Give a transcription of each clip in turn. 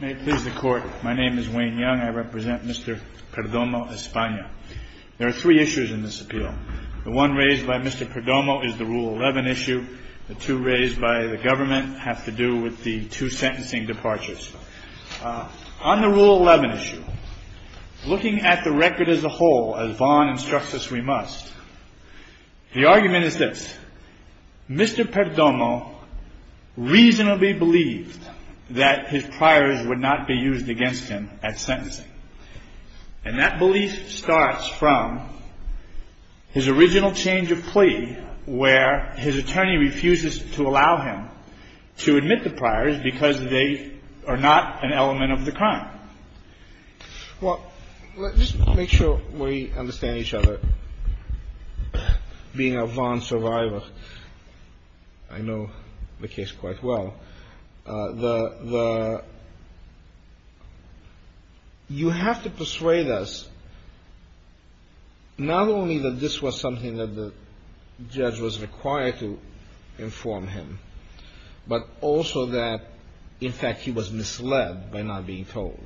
May it please the court, my name is Wayne Young. I represent Mr. Perdomo, Espana. There are three issues in this appeal. The one raised by Mr. Perdomo is the Rule 11 issue. The two raised by the government have to do with the two sentencing departures. On the Rule 11 issue, looking at the record as a whole, as Vaughan instructs us we must, the argument is this. Mr. Perdomo reasonably believed that his priors would not be used against him at sentencing. And that belief starts from his original change of plea where his attorney refuses to allow him to admit the priors because they are not an element of the crime. Well, let's just make sure we understand each other. Being a Vaughan survivor, I know the case quite well. You have to persuade us not only that this was something that the judge was required to inform him, but also that in fact he was misled by not being told.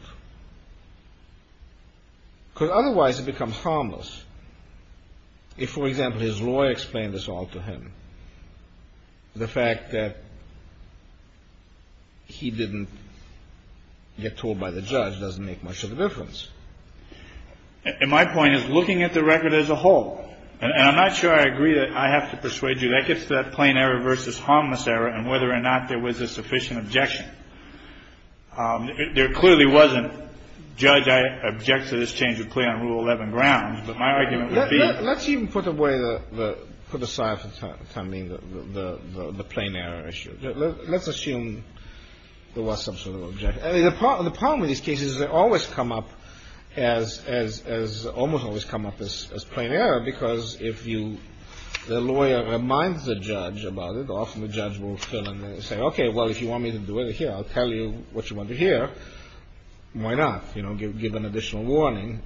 Because otherwise it becomes harmless. If, for example, his lawyer explained this all to him, the fact that he didn't get told by the judge doesn't make much of a difference. And my point is looking at the record as a whole, and I'm not sure I agree that I have to persuade you that gets to that plain error versus harmless error and whether or not there was a sufficient objection. There clearly wasn't. Judge, I object to this change of plea on Rule 11 grounds, but my argument would be. Let's even put away the, put aside for the time being the plain error issue. Let's assume there was some sort of objection. The problem with these cases, they always come up as as as almost always come up as plain error, because if you the lawyer reminds the judge about it, often the judge will say, OK, well, if you want me to do it here, I'll tell you what you want to hear. Why not, you know, give an additional warning.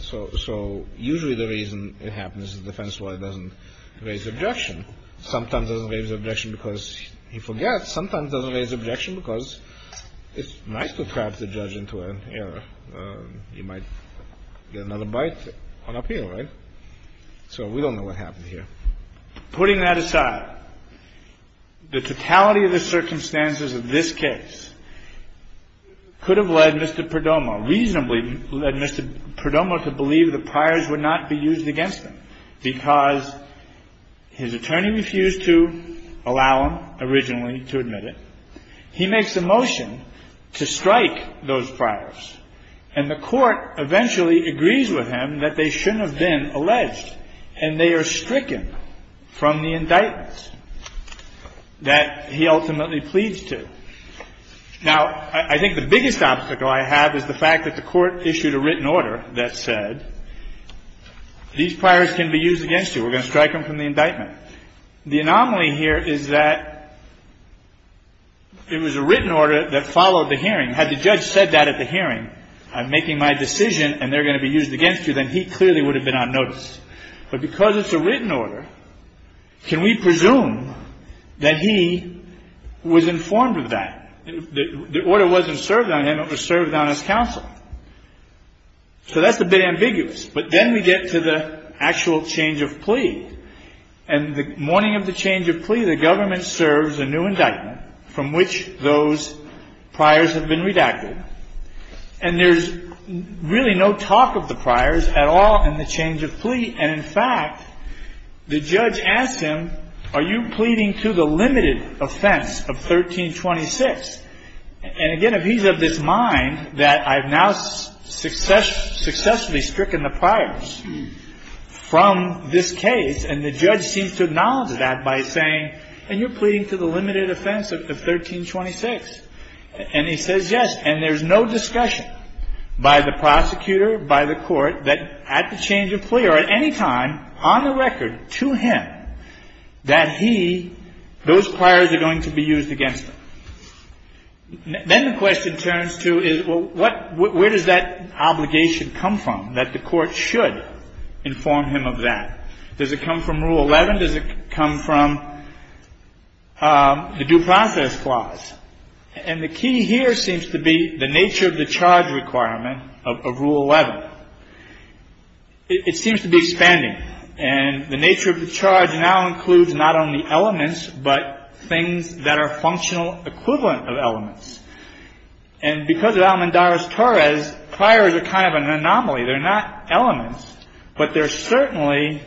So so usually the reason it happens is defense lawyer doesn't raise objection. Sometimes doesn't raise objection because he forgets. Sometimes doesn't raise objection because it's nice to trap the judge into an error. You might get another bite on appeal. Right. So we don't know what happened here. Putting that aside, the totality of the circumstances of this case could have led Mr. Carney refused to allow him originally to admit it. He makes a motion to strike those priors. And the court eventually agrees with him that they shouldn't have been alleged and they are stricken from the indictments that he ultimately pleads to. Now, I think the biggest obstacle I have is the fact that the court issued a written order that said these priors can be used against you. We're going to strike him from the indictment. The anomaly here is that it was a written order that followed the hearing. Had the judge said that at the hearing, I'm making my decision and they're going to be used against you, then he clearly would have been on notice. But because it's a written order, can we presume that he was informed of that? The order wasn't served on him. It was served on his counsel. So that's a bit ambiguous. But then we get to the actual change of plea. And the morning of the change of plea, the government serves a new indictment from which those priors have been redacted. And there's really no talk of the priors at all in the change of plea. And, in fact, the judge asked him, are you pleading to the limited offense of 1326? And, again, if he's of this mind that I've now successfully stricken the priors from this case, and the judge seems to acknowledge that by saying, and you're pleading to the limited offense of 1326, and he says yes, and there's no discussion by the prosecutor, by the court, that at the change of plea or at any time, on the record, to him, that he, those priors are going to be used against him. Then the question turns to is, well, what, where does that obligation come from, that the court should inform him of that? Does it come from Rule 11? Does it come from the Due Process Clause? And the key here seems to be the nature of the charge requirement of Rule 11. It seems to be expanding. And the nature of the charge now includes not only elements, but things that are functional equivalent of elements. And because of Alamondaris-Torres, priors are kind of an anomaly. They're not elements, but they're certainly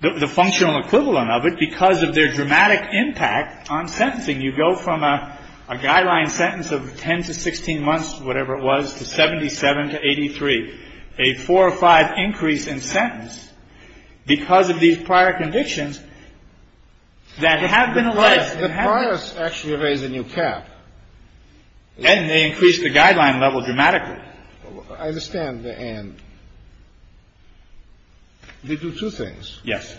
the functional equivalent of it because of their dramatic impact on sentencing. You go from a guideline sentence of 10 to 16 months, whatever it was, to 77 to 83. A four or five increase in sentence because of these prior convictions that have been alleged. The priors actually raise a new cap. And they increase the guideline level dramatically. I understand the and. They do two things. Yes.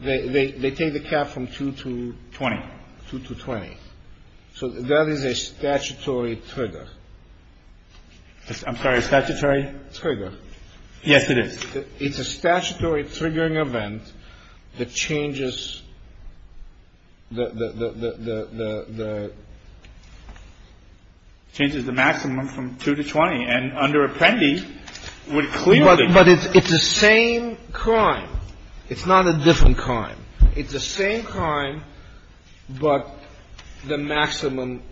They take the cap from 2 to 20. 2 to 20. So that is a statutory trigger. I'm sorry, a statutory? Trigger. Yes, it is. It's a statutory triggering event that changes the maximum from 2 to 20. And under Apprendi, it would clearly be. But it's the same crime. It's not a different crime. It's the same crime, but the maximum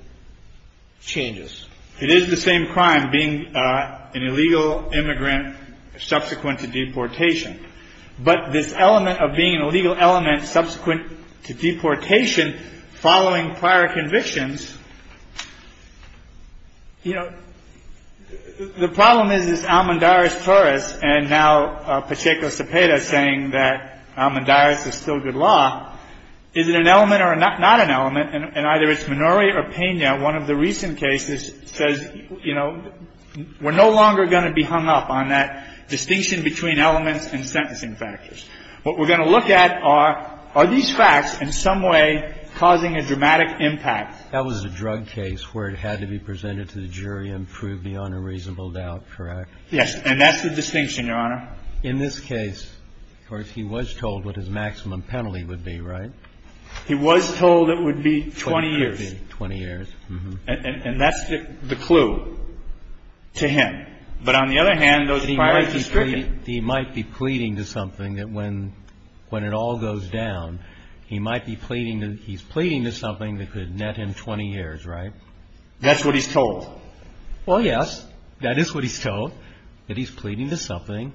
changes. It is the same crime, being an illegal immigrant subsequent to deportation. But this element of being an illegal element subsequent to deportation following prior convictions. You know, the problem is, is Almondyris Torres and now Pacheco Cepeda saying that Almondyris is still good law. Is it an element or not an element? And either it's Minori or Pena. One of the recent cases says, you know, we're no longer going to be hung up on that distinction between elements and sentencing factors. What we're going to look at are, are these facts in some way causing a dramatic impact? That was a drug case where it had to be presented to the jury and proved beyond a reasonable doubt, correct? Yes. And that's the distinction, Your Honor. In this case, of course, he was told what his maximum penalty would be, right? He was told it would be 20 years. 20 years. And that's the clue to him. But on the other hand, those priorities are stricken. He might be pleading to something that when it all goes down, he might be pleading to, he's pleading to something that could net him 20 years, right? That's what he's told. Well, yes. That is what he's told, that he's pleading to something.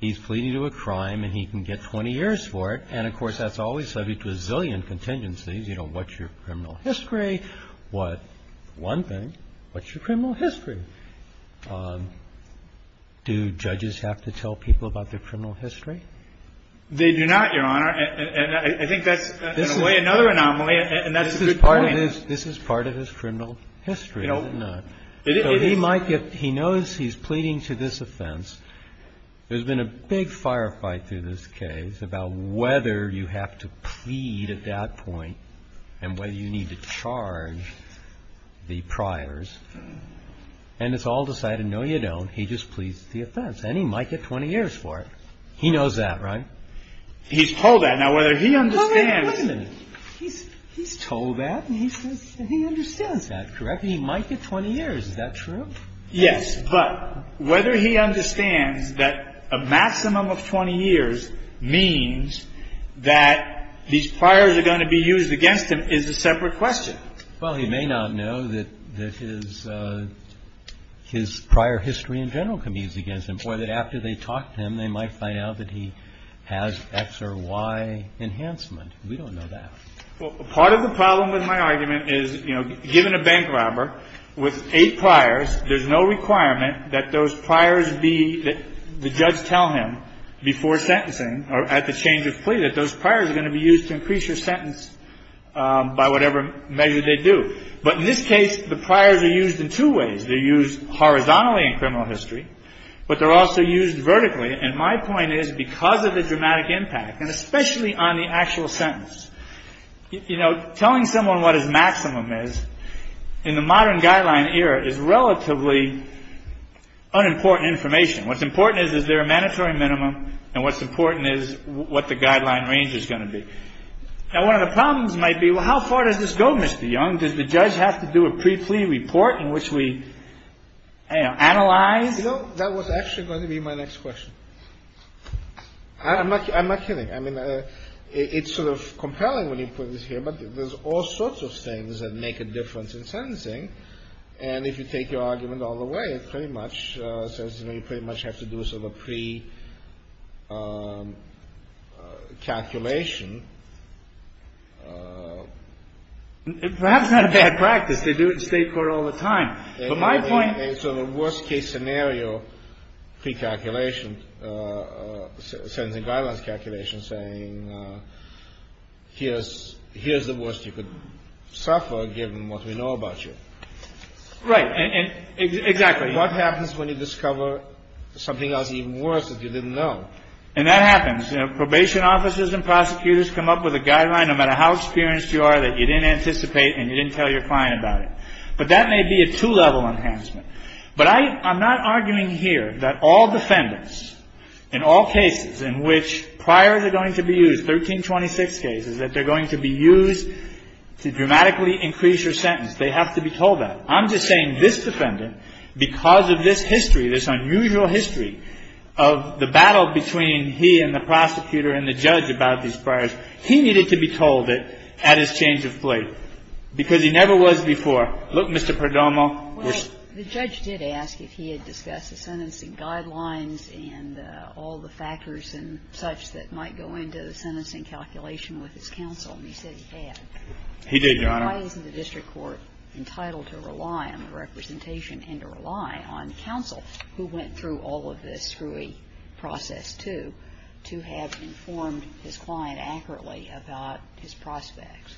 He's pleading to a crime and he can get 20 years for it. And, of course, that's always subject to a zillion contingencies. You know, what's your criminal history? What, one thing, what's your criminal history? Do judges have to tell people about their criminal history? They do not, Your Honor. And I think that's in a way another anomaly, and that's a good point. This is part of his criminal history, isn't it? So he might get, he knows he's pleading to this offense. There's been a big firefight through this case about whether you have to plead at that point and whether you need to charge the priors. And it's all decided, no, you don't. He just pleads the offense and he might get 20 years for it. He knows that, right? He's told that. Now, whether he understands. Wait a minute. He's told that and he says he understands that, correct? He might get 20 years. Is that true? Yes. But whether he understands that a maximum of 20 years means that these priors are going to be used against him is a separate question. Well, he may not know that his prior history in general convenes against him, or that after they talk to him they might find out that he has X or Y enhancement. We don't know that. Well, part of the problem with my argument is, you know, given a bank robber with eight priors, there's no requirement that those priors be, that the judge tell him before sentencing or at the change of plea, that those priors are going to be used to increase your sentence by whatever measure they do. But in this case, the priors are used in two ways. They're used horizontally in criminal history, but they're also used vertically. And my point is, because of the dramatic impact, and especially on the actual sentence, you know, telling someone what his maximum is in the modern guideline era is relatively unimportant information. What's important is, is there a mandatory minimum, and what's important is what the guideline range is going to be. Now, one of the problems might be, well, how far does this go, Mr. Young? Does the judge have to do a pre-plea report in which we, you know, analyze? You know, that was actually going to be my next question. I'm not kidding. I mean, it's sort of compelling when you put this here, but there's all sorts of things that make a difference in sentencing. And if you take your argument all the way, it pretty much says, you know, you pretty much have to do sort of a pre-calculation. Perhaps not a bad practice. They do it in state court all the time. But my point... So the worst case scenario pre-calculation, sentencing guidelines calculation saying, here's the worst you could suffer given what we know about you. Right. Exactly. What happens when you discover something else even worse that you didn't know? And that happens. Probation officers and prosecutors come up with a guideline, no matter how experienced you are, that you didn't anticipate and you didn't tell your client about it. But that may be a two-level enhancement. But I'm not arguing here that all defendants in all cases in which priors are going to be used, 1326 cases, that they're going to be used to dramatically increase your sentence, they have to be told that. I'm just saying this defendant, because of this history, this unusual history, of the battle between he and the prosecutor and the judge about these priors, he needed to be told it at his change of plate, because he never was before. Look, Mr. Perdomo was... Well, the judge did ask if he had discussed the sentencing guidelines and all the factors and such that might go into the sentencing calculation with his counsel, and he said he had. He did, Your Honor. Why isn't the district court entitled to rely on the representation and to rely on counsel who went through all of this screwy process, too, to have informed his client accurately about his prospects?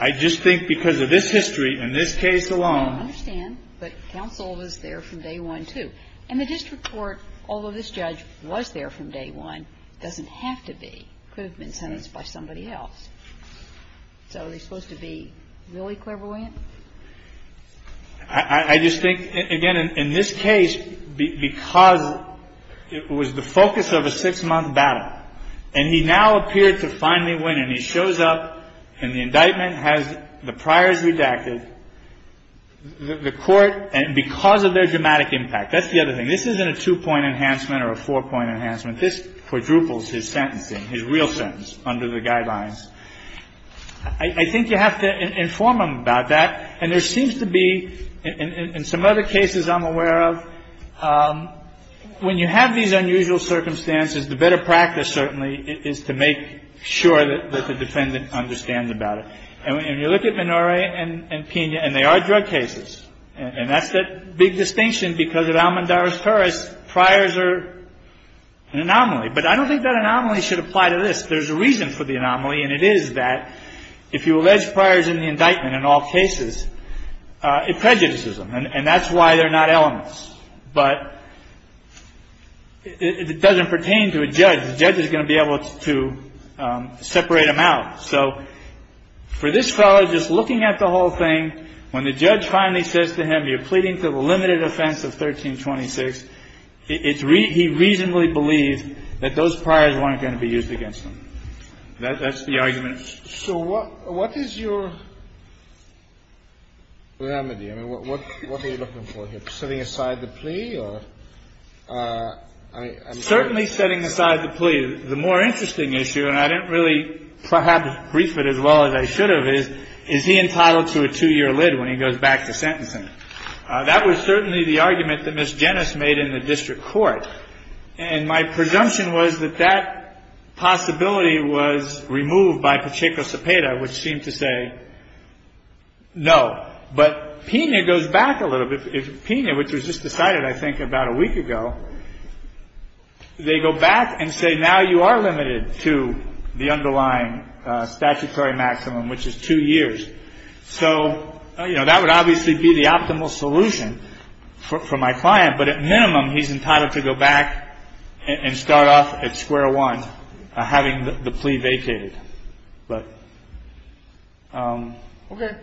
I just think because of this history and this case alone... I understand. But counsel was there from day one, too. And the district court, although this judge was there from day one, doesn't have to be. It could have been sentenced by somebody else. So are they supposed to be really clever, William? I just think, again, in this case, because it was the focus of a six-month battle, and he now appeared to finally win, and he shows up, and the indictment has the priors redacted, the court, and because of their dramatic impact. That's the other thing. This isn't a two-point enhancement or a four-point enhancement. This quadruples his sentencing, his real sentence, under the guidelines. I think you have to inform him about that. And there seems to be, in some other cases I'm aware of, when you have these unusual circumstances, the better practice, certainly, is to make sure that the defendant understands about it. And when you look at Minore and Pena, and they are drug cases, and that's the big distinction because at Almondara's Puris, priors are an anomaly. But I don't think that anomaly should apply to this. There's a reason for the anomaly, and it is that if you allege priors in the indictment in all cases, it prejudices them. And that's why they're not elements. But it doesn't pertain to a judge. The judge is going to be able to separate them out. So for this fellow, just looking at the whole thing, when the judge finally says to him, you're pleading for the limited offense of 1326, he reasonably believes that those priors weren't going to be used against him. That's the argument. So what is your remedy? I mean, what are you looking for here? Setting aside the plea or? Certainly setting aside the plea. The more interesting issue, and I didn't really have to brief it as well as I should have, is, is he entitled to a two-year lid when he goes back to sentencing? That was certainly the argument that Ms. Jenis made in the district court. And my presumption was that that possibility was removed by Pacheco-Cepeda, which seemed to say no. But Pena goes back a little bit. If Pena, which was just decided, I think, about a week ago, they go back and say, now you are limited to the underlying statutory maximum, which is two years. So, you know, that would obviously be the optimal solution for my client. But at minimum, he's entitled to go back and start off at square one, having the plea vacated. But. OK.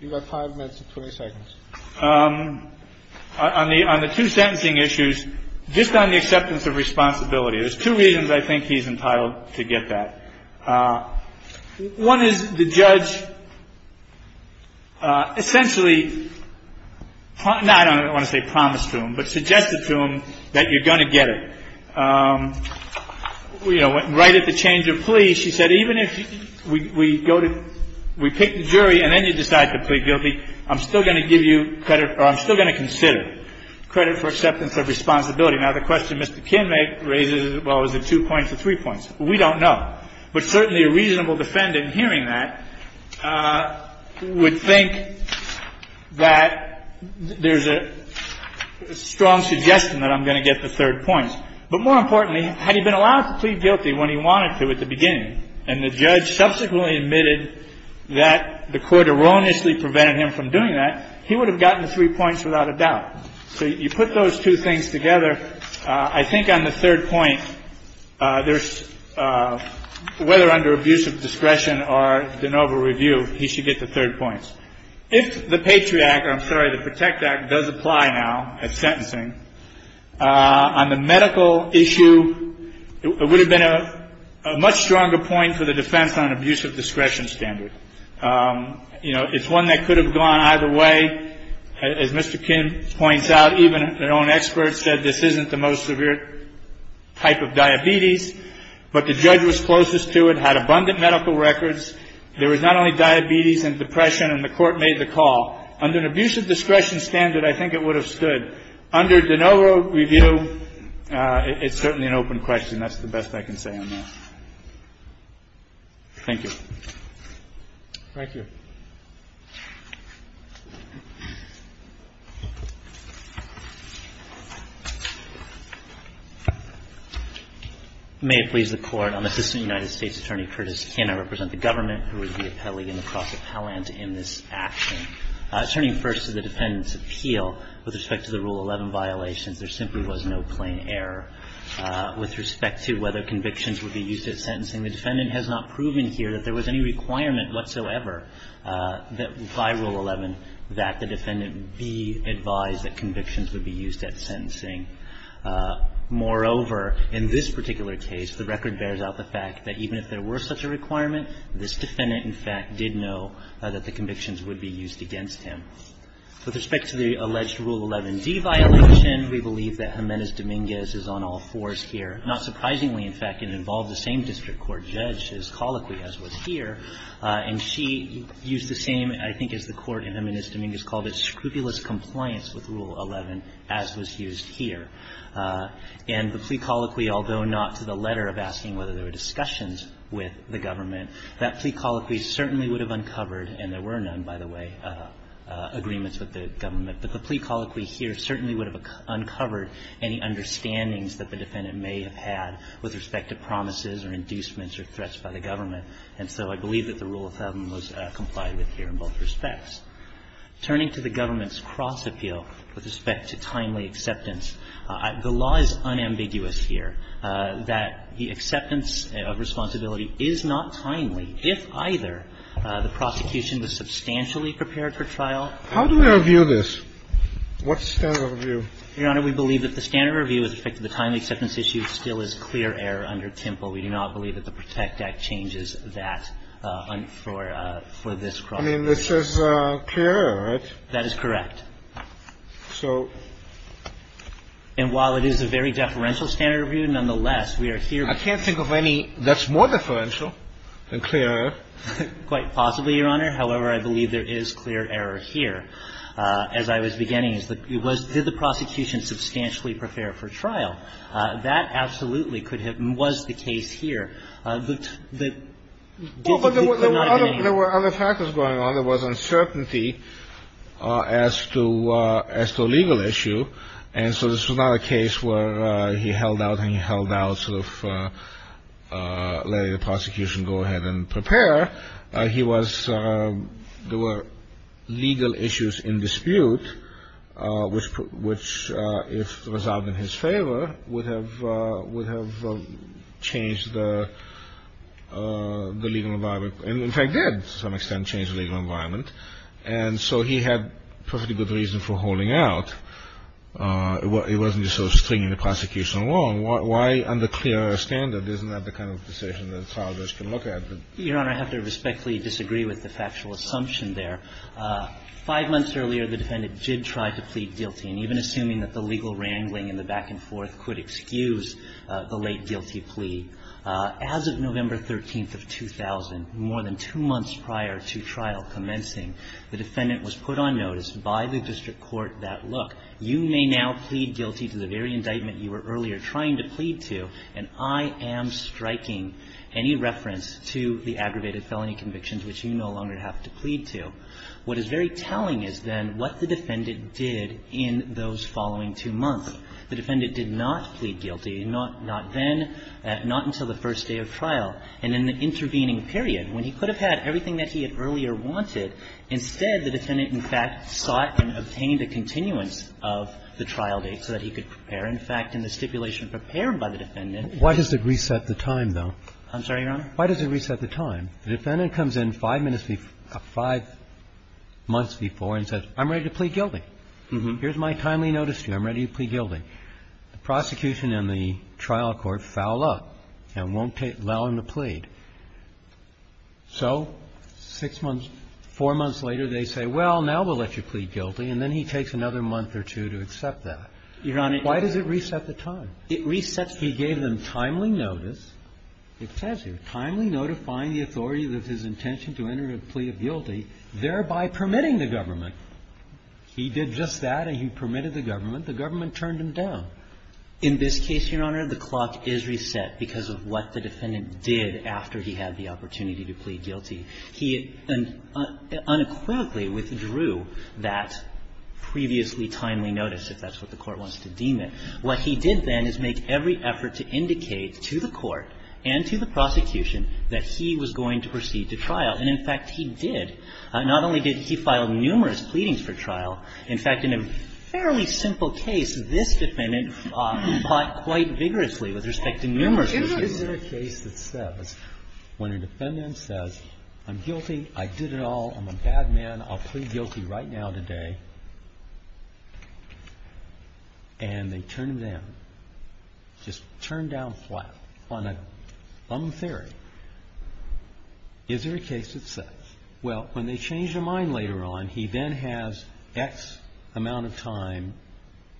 You've got five minutes and 20 seconds. On the two sentencing issues, just on the acceptance of responsibility, there's two reasons I think he's entitled to get that. One is the judge essentially, I don't want to say promised to him, but suggested to him that you're going to get it. You know, right at the change of plea, she said, even if we go to, we pick the jury and then you decide to plead guilty, I'm still going to give you credit or I'm still going to consider credit for acceptance of responsibility. Now, the question Mr. Kinmay raises, well, is it two points or three points? We don't know. But certainly a reasonable defendant hearing that would think that there's a strong suggestion that I'm going to get the third point. But more importantly, had he been allowed to plead guilty when he wanted to at the beginning and the judge subsequently admitted that the court erroneously prevented him from doing that, he would have gotten the three points without a doubt. So you put those two things together. I think on the third point, whether under abuse of discretion or de novo review, he should get the third points. If the Patriot Act, I'm sorry, the Protect Act does apply now at sentencing, on the medical issue, it would have been a much stronger point for the defense on abuse of discretion standard. You know, it's one that could have gone either way. As Mr. Kin points out, even their own experts said this isn't the most severe type of diabetes, but the judge was closest to it, had abundant medical records. There was not only diabetes and depression, and the court made the call. Under an abuse of discretion standard, I think it would have stood. But under de novo review, it's certainly an open question. That's the best I can say on that. Thank you. Thank you. May it please the Court. I'm Assistant United States Attorney Curtis Kin. I represent the government who is the appellee in the cross-appellant in this action. Turning first to the defendant's appeal with respect to the Rule 11 violations, there simply was no plain error. With respect to whether convictions would be used at sentencing, the defendant has not proven here that there was any requirement whatsoever that by Rule 11 that the defendant be advised that convictions would be used at sentencing. Moreover, in this particular case, the record bears out the fact that even if there were such a requirement, this defendant in fact did know that the convictions would be used against him. With respect to the alleged Rule 11d violation, we believe that Jimenez-Dominguez is on all fours here. Not surprisingly, in fact, it involved the same district court judge, his colloquy, as was here, and she used the same, I think, as the court in Jimenez-Dominguez called it, scrupulous compliance with Rule 11, as was used here. And the plea colloquy, although not to the letter of asking whether there were discussions with the government, that plea colloquy certainly would have uncovered, and there were none, by the way, agreements with the government, but the plea colloquy here certainly would have uncovered any understandings that the defendant may have had with respect to promises or inducements or threats by the government. And so I believe that the Rule 11 was complied with here in both respects. Turning to the government's cross-appeal with respect to timely acceptance, the law is unambiguous here that the acceptance of responsibility is not timely if either the prosecution was substantially prepared for trial. How do we review this? What's the standard of review? Your Honor, we believe that the standard of review with respect to the timely acceptance issue still is clear error under TMPL. We do not believe that the Protect Act changes that for this cross-appeal. I mean, this is clear error, right? That is correct. So. And while it is a very deferential standard of review, nonetheless, we are here. I can't think of any that's more deferential than clear error. Quite possibly, Your Honor. However, I believe there is clear error here. As I was beginning, it was, did the prosecution substantially prepare for trial? That absolutely could have been, was the case here. There were other factors going on. There was uncertainty as to a legal issue. And so this was not a case where he held out and he held out sort of letting the prosecution go ahead and prepare. He was, there were legal issues in dispute, which, if resolved in his favor, would have changed the legal environment. And in fact, did to some extent change the legal environment. And so he had perfectly good reason for holding out. It wasn't just sort of stringing the prosecution along. Why under clear error standard? Isn't that the kind of decision that solvers can look at? Your Honor, I have to respectfully disagree with the factual assumption there. Five months earlier, the defendant did try to plead guilty. And even assuming that the legal wrangling and the back-and-forth could excuse the late guilty plea, as of November 13th of 2000, more than two months prior to trial commencing, the defendant was put on notice by the district court that, look, you may now plead guilty to the very indictment you were earlier trying to plead to, and I am striking any reference to the aggravated felony convictions which you no longer have to plead to. What is very telling is then what the defendant did in those following two months. The defendant did not plead guilty, not then, not until the first day of trial. And in the intervening period, when he could have had everything that he had earlier wanted, instead, the defendant, in fact, sought and obtained a continuance of the trial date so that he could prepare. In fact, in the stipulation prepared by the defendant. Why does it reset the time, though? I'm sorry, Your Honor? Why does it reset the time? The defendant comes in five minutes before or five months before and says, I'm ready to plead guilty. Here's my timely notice to you. I'm ready to plead guilty. The prosecution and the trial court foul up and won't allow him to plead. So six months, four months later, they say, well, now we'll let you plead guilty, and then he takes another month or two to accept that. Your Honor. Why does it reset the time? It resets the time. He gave them timely notice. It says here, timely notifying the authority of his intention to enter a plea of guilty, thereby permitting the government. He did just that and he permitted the government. The government turned him down. In this case, Your Honor, the clock is reset because of what the defendant did after he had the opportunity to plead guilty. He unequivocally withdrew that previously timely notice, if that's what the court wants to deem it. What he did then is make every effort to indicate to the court and to the prosecution that he was going to proceed to trial, and, in fact, he did. Not only did he file numerous pleadings for trial, in fact, in a fairly simple case, this defendant fought quite vigorously with respect to numerous cases. Is there a case that says, when a defendant says, I'm guilty, I did it all, I'm a bad man, I'll plead guilty right now today, and they turn to them, just turn down flat on a thumb theory, is there a case that says, well, when they change their mind later on, he then has X amount of time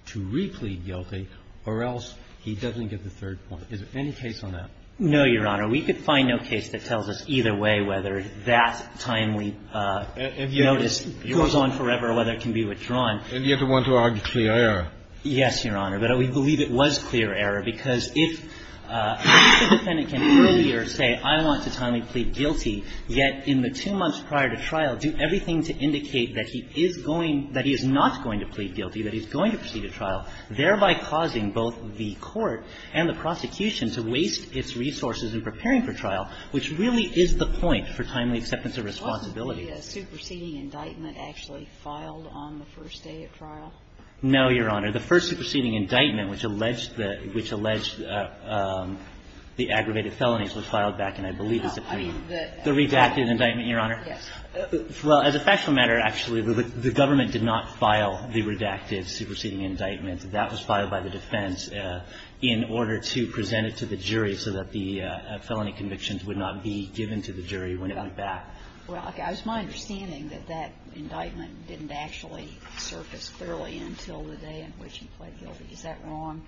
to replead guilty, or else he doesn't get the third point? Is there any case on that? No, Your Honor. We could find no case that tells us either way whether that timely notice goes on forever or whether it can be withdrawn. And yet you want to argue clear error. Yes, Your Honor. But we believe it was clear error, because if the defendant can earlier say, I want to timely plead guilty, yet in the two months prior to trial do everything to indicate that he is going, that he is not going to plead guilty, that he's going to proceed to trial, thereby causing both the court and the prosecution to waste its resources in preparing for trial, which really is the point for timely acceptance of responsibility. Was the superseding indictment actually filed on the first day at trial? No, Your Honor. The first superseding indictment, which alleged the aggravated felonies, was filed back in, I believe, the Supreme. The redacted indictment, Your Honor? Yes. Well, as a factual matter, actually, the government did not file the redacted superseding indictment. That was filed by the defense in order to present it to the jury so that the felony convictions would not be given to the jury when it went back. Well, it's my understanding that that indictment didn't actually surface thoroughly until the day in which he pled guilty. Is that wrong?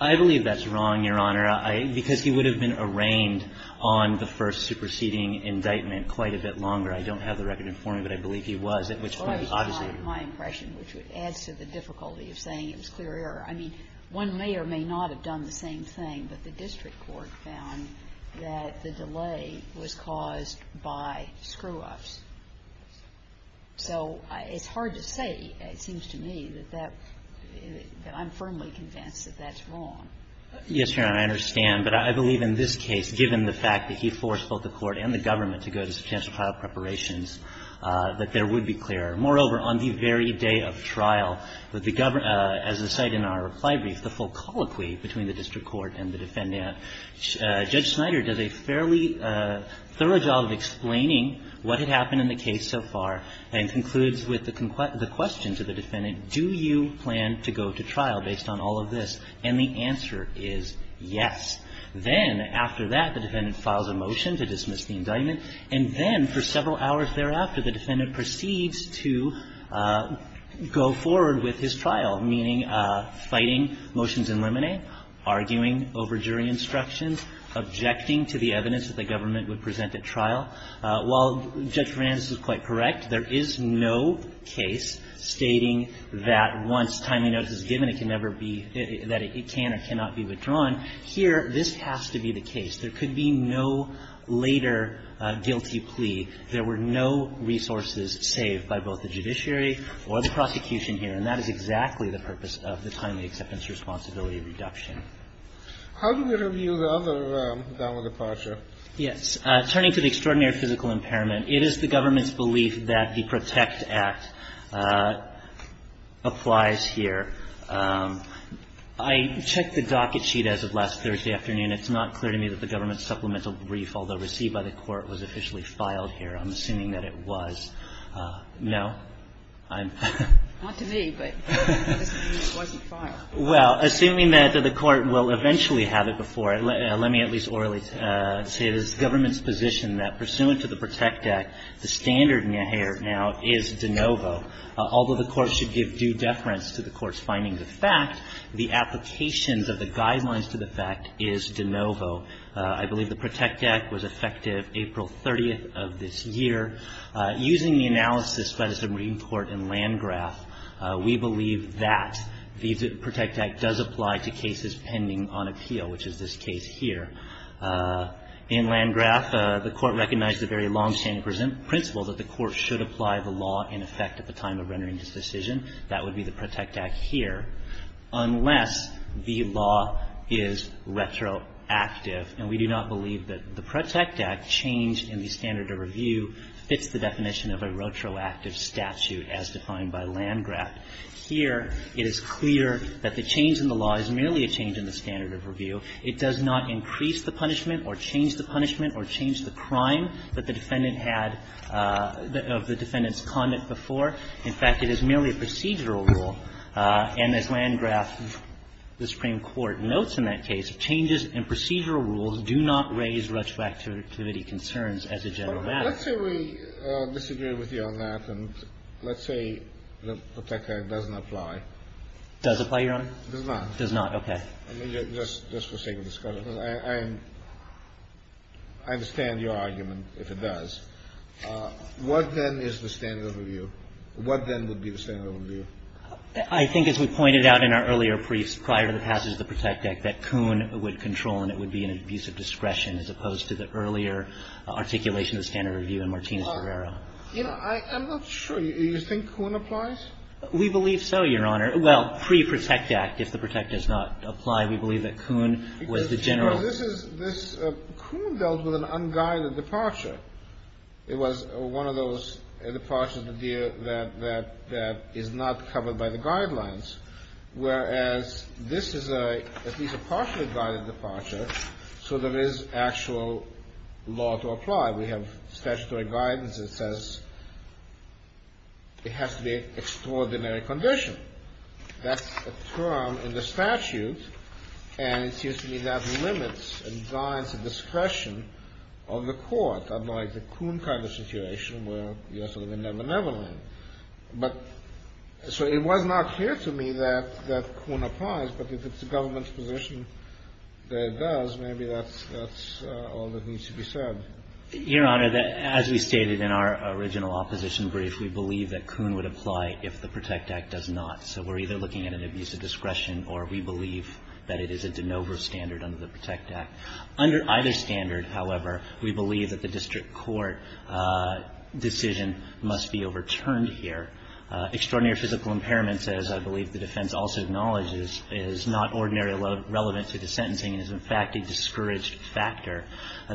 I believe that's wrong, Your Honor. Because he would have been arraigned on the first superseding indictment quite a bit longer. I don't have the record in front of me, but I believe he was, at which point, obviously he was. Well, that's just my impression, which adds to the difficulty of saying it was clear error. I mean, one may or may not have done the same thing, but the district court found that the delay was caused by screw-ups. So it's hard to say, it seems to me, that that – that I'm firmly convinced that that's wrong. Yes, Your Honor, I understand. But I believe in this case, given the fact that he forced both the court and the government to go to substantial trial preparations, that there would be clear error. Moreover, on the very day of trial, as the site in our reply brief, the full colloquy between the district court and the defendant, Judge Snyder does a fairly thorough job of explaining what had happened in the case so far and concludes with the question to the defendant, do you plan to go to trial based on all of this? And the answer is yes. Then after that, the defendant files a motion to dismiss the indictment, and then for several hours thereafter, the defendant proceeds to go forward with his trial, meaning fighting motions in limine, arguing over jury instructions, objecting to the evidence that the government would present at trial. While Judge Fernandez is quite correct, there is no case stating that once timely notice is given, it can never be, that it can or cannot be withdrawn. Here, this has to be the case. There could be no later guilty plea. There were no resources saved by both the judiciary or the prosecution here, and that is exactly the purpose of the timely acceptance responsibility reduction. How do we review the other valid departure? Yes. Turning to the extraordinary physical impairment, it is the government's belief that the PROTECT Act applies here. I checked the docket sheet as of last Thursday afternoon. It's not clear to me that the government's supplemental brief, although received by the Court, was officially filed here. I'm assuming that it was. No? I'm — Not to me, but it wasn't filed. I would say it is the government's position that, pursuant to the PROTECT Act, the standard now is de novo. Although the Court should give due deference to the Court's findings of fact, the applications of the guidelines to the fact is de novo. I believe the PROTECT Act was effective April 30th of this year. Using the analysis by the Supreme Court and Landgraf, we believe that the PROTECT Act does apply to cases pending on appeal, which is this case here. In Landgraf, the Court recognized the very longstanding principle that the Court should apply the law in effect at the time of rendering its decision. That would be the PROTECT Act here, unless the law is retroactive. And we do not believe that the PROTECT Act, changed in the standard of review, fits the definition of a retroactive statute as defined by Landgraf. Here, it is clear that the change in the law is merely a change in the standard of review. It does not increase the punishment or change the punishment or change the crime that the defendant had of the defendant's conduct before. In fact, it is merely a procedural rule. And as Landgraf, the Supreme Court, notes in that case, changes in procedural rules do not raise retroactivity concerns as a general matter. Let's say we disagree with you on that. And let's say the PROTECT Act doesn't apply. Does apply, Your Honor? Does not. Does not. Okay. Just for sake of discussion. I understand your argument, if it does. What, then, is the standard of review? What, then, would be the standard of review? I think, as we pointed out in our earlier briefs prior to the passage of the PROTECT Act, that Kuhn would control and it would be an abuse of discretion as opposed to the earlier articulation of the standard of review in Martinez-Ferreira. You know, I'm not sure. Do you think Kuhn applies? We believe so, Your Honor. Well, pre-PROTECT Act, if the PROTECT does not apply, we believe that Kuhn was the general. This is the – Kuhn dealt with an unguided departure. It was one of those departures that is not covered by the guidelines, whereas this is a – at least a partially guided departure, so there is actual law to apply. We have statutory guidance that says it has to be an extraordinary condition. That's a term in the statute, and it seems to me that limits and guides the discretion of the court, unlike the Kuhn kind of situation where, you know, sort of a never-never land. But – so it was not clear to me that Kuhn applies, but if it's a government position that it does, maybe that's all that needs to be said. Your Honor, as we stated in our original opposition brief, we believe that Kuhn would apply if the PROTECT Act does not. So we're either looking at an abuse of discretion or we believe that it is a de novo standard under the PROTECT Act. Under either standard, however, we believe that the district court decision must be overturned here. Extraordinary physical impairments, as I believe the defense also acknowledges, is not ordinarily relevant to the sentencing and is, in fact, a discouraged factor.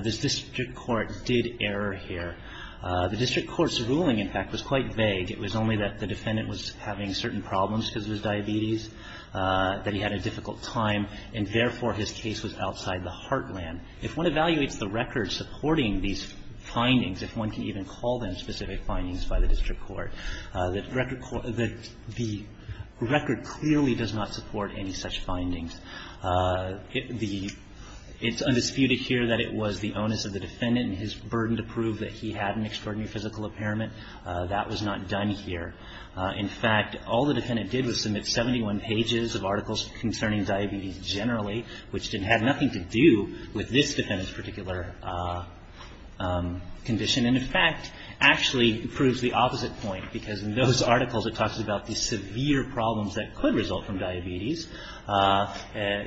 This district court did error here. The district court's ruling, in fact, was quite vague. It was only that the defendant was having certain problems because of his diabetes, that he had a difficult time, and therefore, his case was outside the heartland. If one evaluates the record supporting these findings, if one can even call them specific findings by the district court, the record clearly does not support any such findings. It's undisputed here that it was the onus of the defendant and his burden to prove that he had an extraordinary physical impairment. That was not done here. In fact, all the defendant did was submit 71 pages of articles concerning diabetes generally, which didn't have nothing to do with this defendant's particular condition. And, in fact, actually proves the opposite point, because in those articles, it talks about the severe problems that could result from diabetes,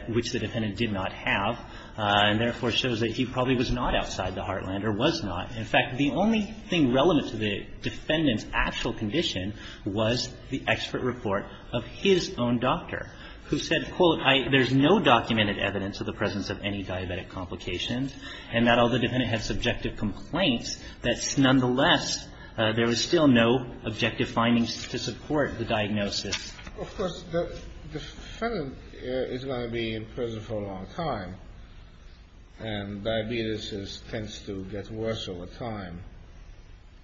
which the defendant did not have, and therefore, shows that he probably was not outside the heartland or was not. In fact, the only thing relevant to the defendant's actual condition was the expert report of his own doctor, who said, quote, there's no documented evidence of the presence of any diabetic complications, and that although the defendant had subjective complaints, that nonetheless, there was still no objective findings to support the diagnosis. Of course, the defendant is going to be in prison for a long time, and diabetes tends to get worse over time.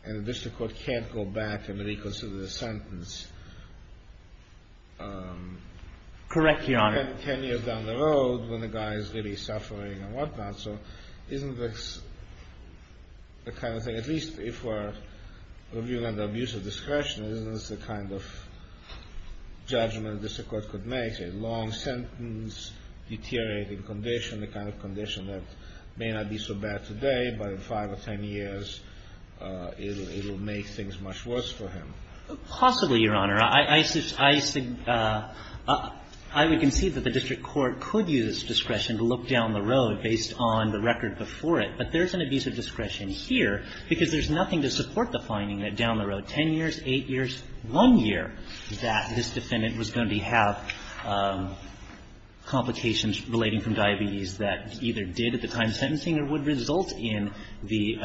And the district court can't go back and reconsider the sentence. Correct, Your Honor. And 10 years down the road, when the guy is really suffering and whatnot, so isn't this the kind of thing, at least if we're reviewing under abusive discretion, isn't this the kind of judgment the district court could make, a long-sentence, deteriorating condition, the kind of condition that may not be so bad today, but in 5 or 10 years, it will make things much worse for him? Possibly, Your Honor. I would concede that the district court could use discretion to look down the road based on the record before it, but there's an abusive discretion here because there's nothing to support the finding that down the road, 10 years, 8 years, 1 year, that this defendant was going to have complications relating from diabetes that either did at the time sentencing or would result in the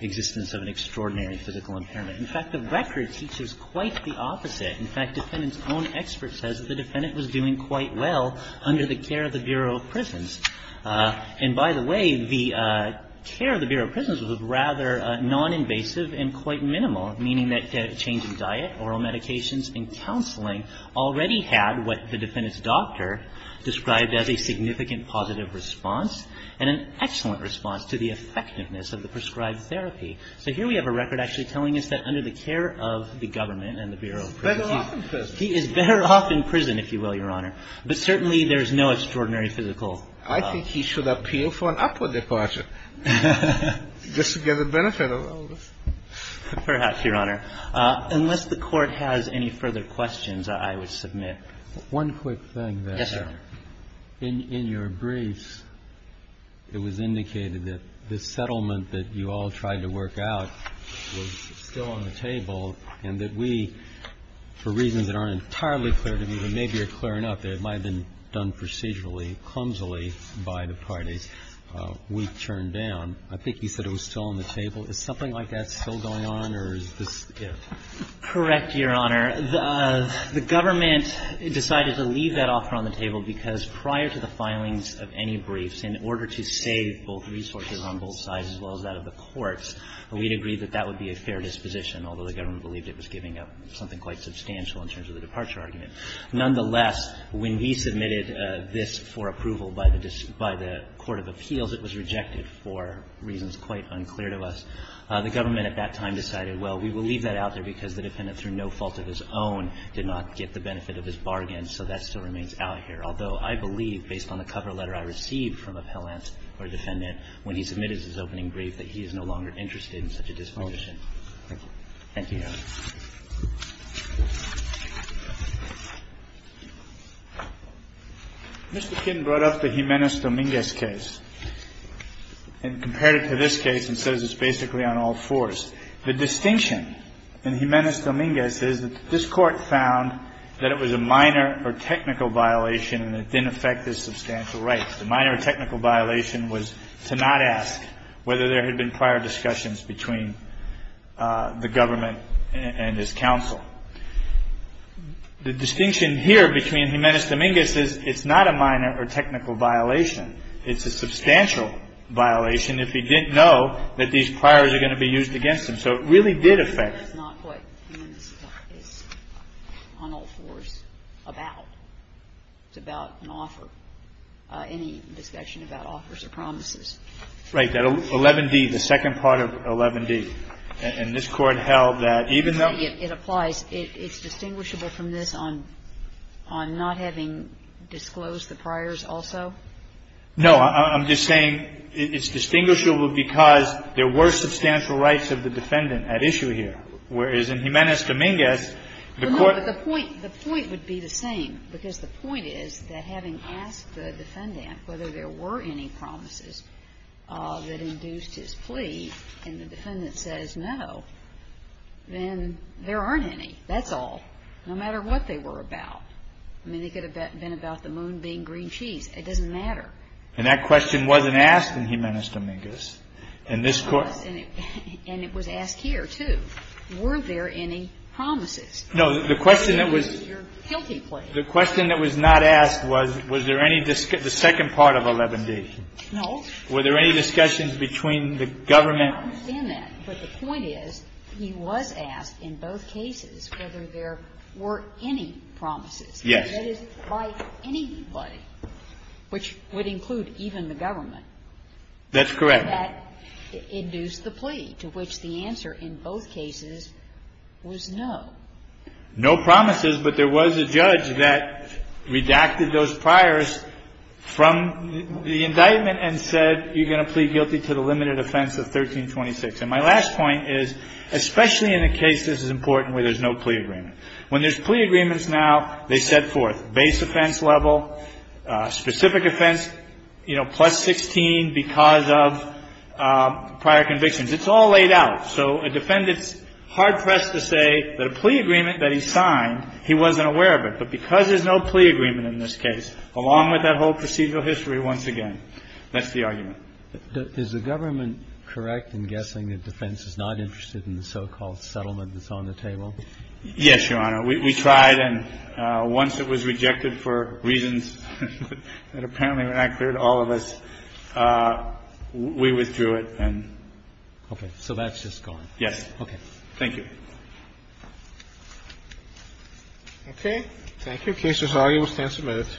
existence of an extraordinary physical impairment. In fact, the record teaches quite the opposite. In fact, defendant's own expert says that the defendant was doing quite well under the care of the Bureau of Prisons. And by the way, the care of the Bureau of Prisons was rather noninvasive and quite minimal, meaning that change in diet, oral medications and counseling already had what the defendant's doctor described as a significant positive response and an excellent response to the effectiveness of the prescribed therapy. So here we have a record actually telling us that under the care of the government and the Bureau of Prisons. He's better off in prison. He is better off in prison, if you will, Your Honor. But certainly there is no extraordinary physical impairment. I think he should appeal for an upward departure just to get the benefit of all this. Perhaps, Your Honor. Unless the Court has any further questions, I would submit. One quick thing. Yes, sir. In your briefs, it was indicated that the settlement that you all tried to work out was still on the table and that we, for reasons that aren't entirely clear to me, but maybe are clear enough that it might have been done procedurally, clumsily by the parties, we turned down. I think you said it was still on the table. Is something like that still going on, or is this, you know? Correct, Your Honor. The government decided to leave that offer on the table because prior to the filings of any briefs, in order to save both resources on both sides as well as that of the courts, we had agreed that that would be a fair disposition, although the government believed it was giving up something quite substantial in terms of the departure argument. Nonetheless, when we submitted this for approval by the court of appeals, it was rejected for reasons quite unclear to us. The government at that time decided, well, we will leave that out there because the defendant, through no fault of his own, did not get the benefit of his bargain, so that still remains out here, although I believe, based on the cover letter I received from appellants or defendant, when he submitted his opening brief, that he is no longer interested in such a disposition. Thank you. Thank you, Your Honor. Mr. Kidd brought up the Jimenez-Dominguez case and compared it to this case and says it's basically on all fours. The distinction in Jimenez-Dominguez is that this court found that it was a minor or technical violation and it didn't affect his substantial rights. The minor or technical violation was to not ask whether there had been prior discussions between the government and his counsel. The distinction here between Jimenez-Dominguez is it's not a minor or technical violation. It's a substantial violation if he didn't know that these priors are going to be used against him. So it really did affect. It's not what Jimenez-Dominguez is on all fours about. It's about an offer. Any discussion about offers or promises. Right. That 11d, the second part of 11d. And this Court held that even though it applies, it's distinguishable from this on not having disclosed the priors also? No. I'm just saying it's distinguishable because there were substantial rights of the defendant at issue here. Whereas in Jimenez-Dominguez, the court the point would be the same because the point is that having asked the defendant whether there were any promises that induced his plea and the defendant says no, then there aren't any. That's all. No matter what they were about. I mean, it could have been about the moon being green cheese. It doesn't matter. And that question wasn't asked in Jimenez-Dominguez. And it was asked here, too. Were there any promises? No. The question that was not asked was, was there any discussion, the second part of 11d. No. Were there any discussions between the government? I understand that. But the point is, he was asked in both cases whether there were any promises. Yes. That is, by anybody, which would include even the government. That's correct. That induced the plea, to which the answer in both cases was no. No promises, but there was a judge that redacted those priors from the indictment and said you're going to plead guilty to the limited offense of 1326. And my last point is, especially in a case this is important where there's no plea agreement. When there's plea agreements now, they set forth base offense level, specific offense, you know, plus 16 because of prior convictions. It's all laid out. So a defendant's hard pressed to say that a plea agreement that he signed, he wasn't aware of it. But because there's no plea agreement in this case, along with that whole procedural history once again, that's the argument. Is the government correct in guessing that defense is not interested in the so-called settlement that's on the table? Yes, Your Honor. We tried. And once it was rejected for reasons that apparently were not clear to all of us, we withdrew it. Okay. So that's just gone. Yes. Okay. Thank you. Okay. Thank you. The case is argued with 10 submittals.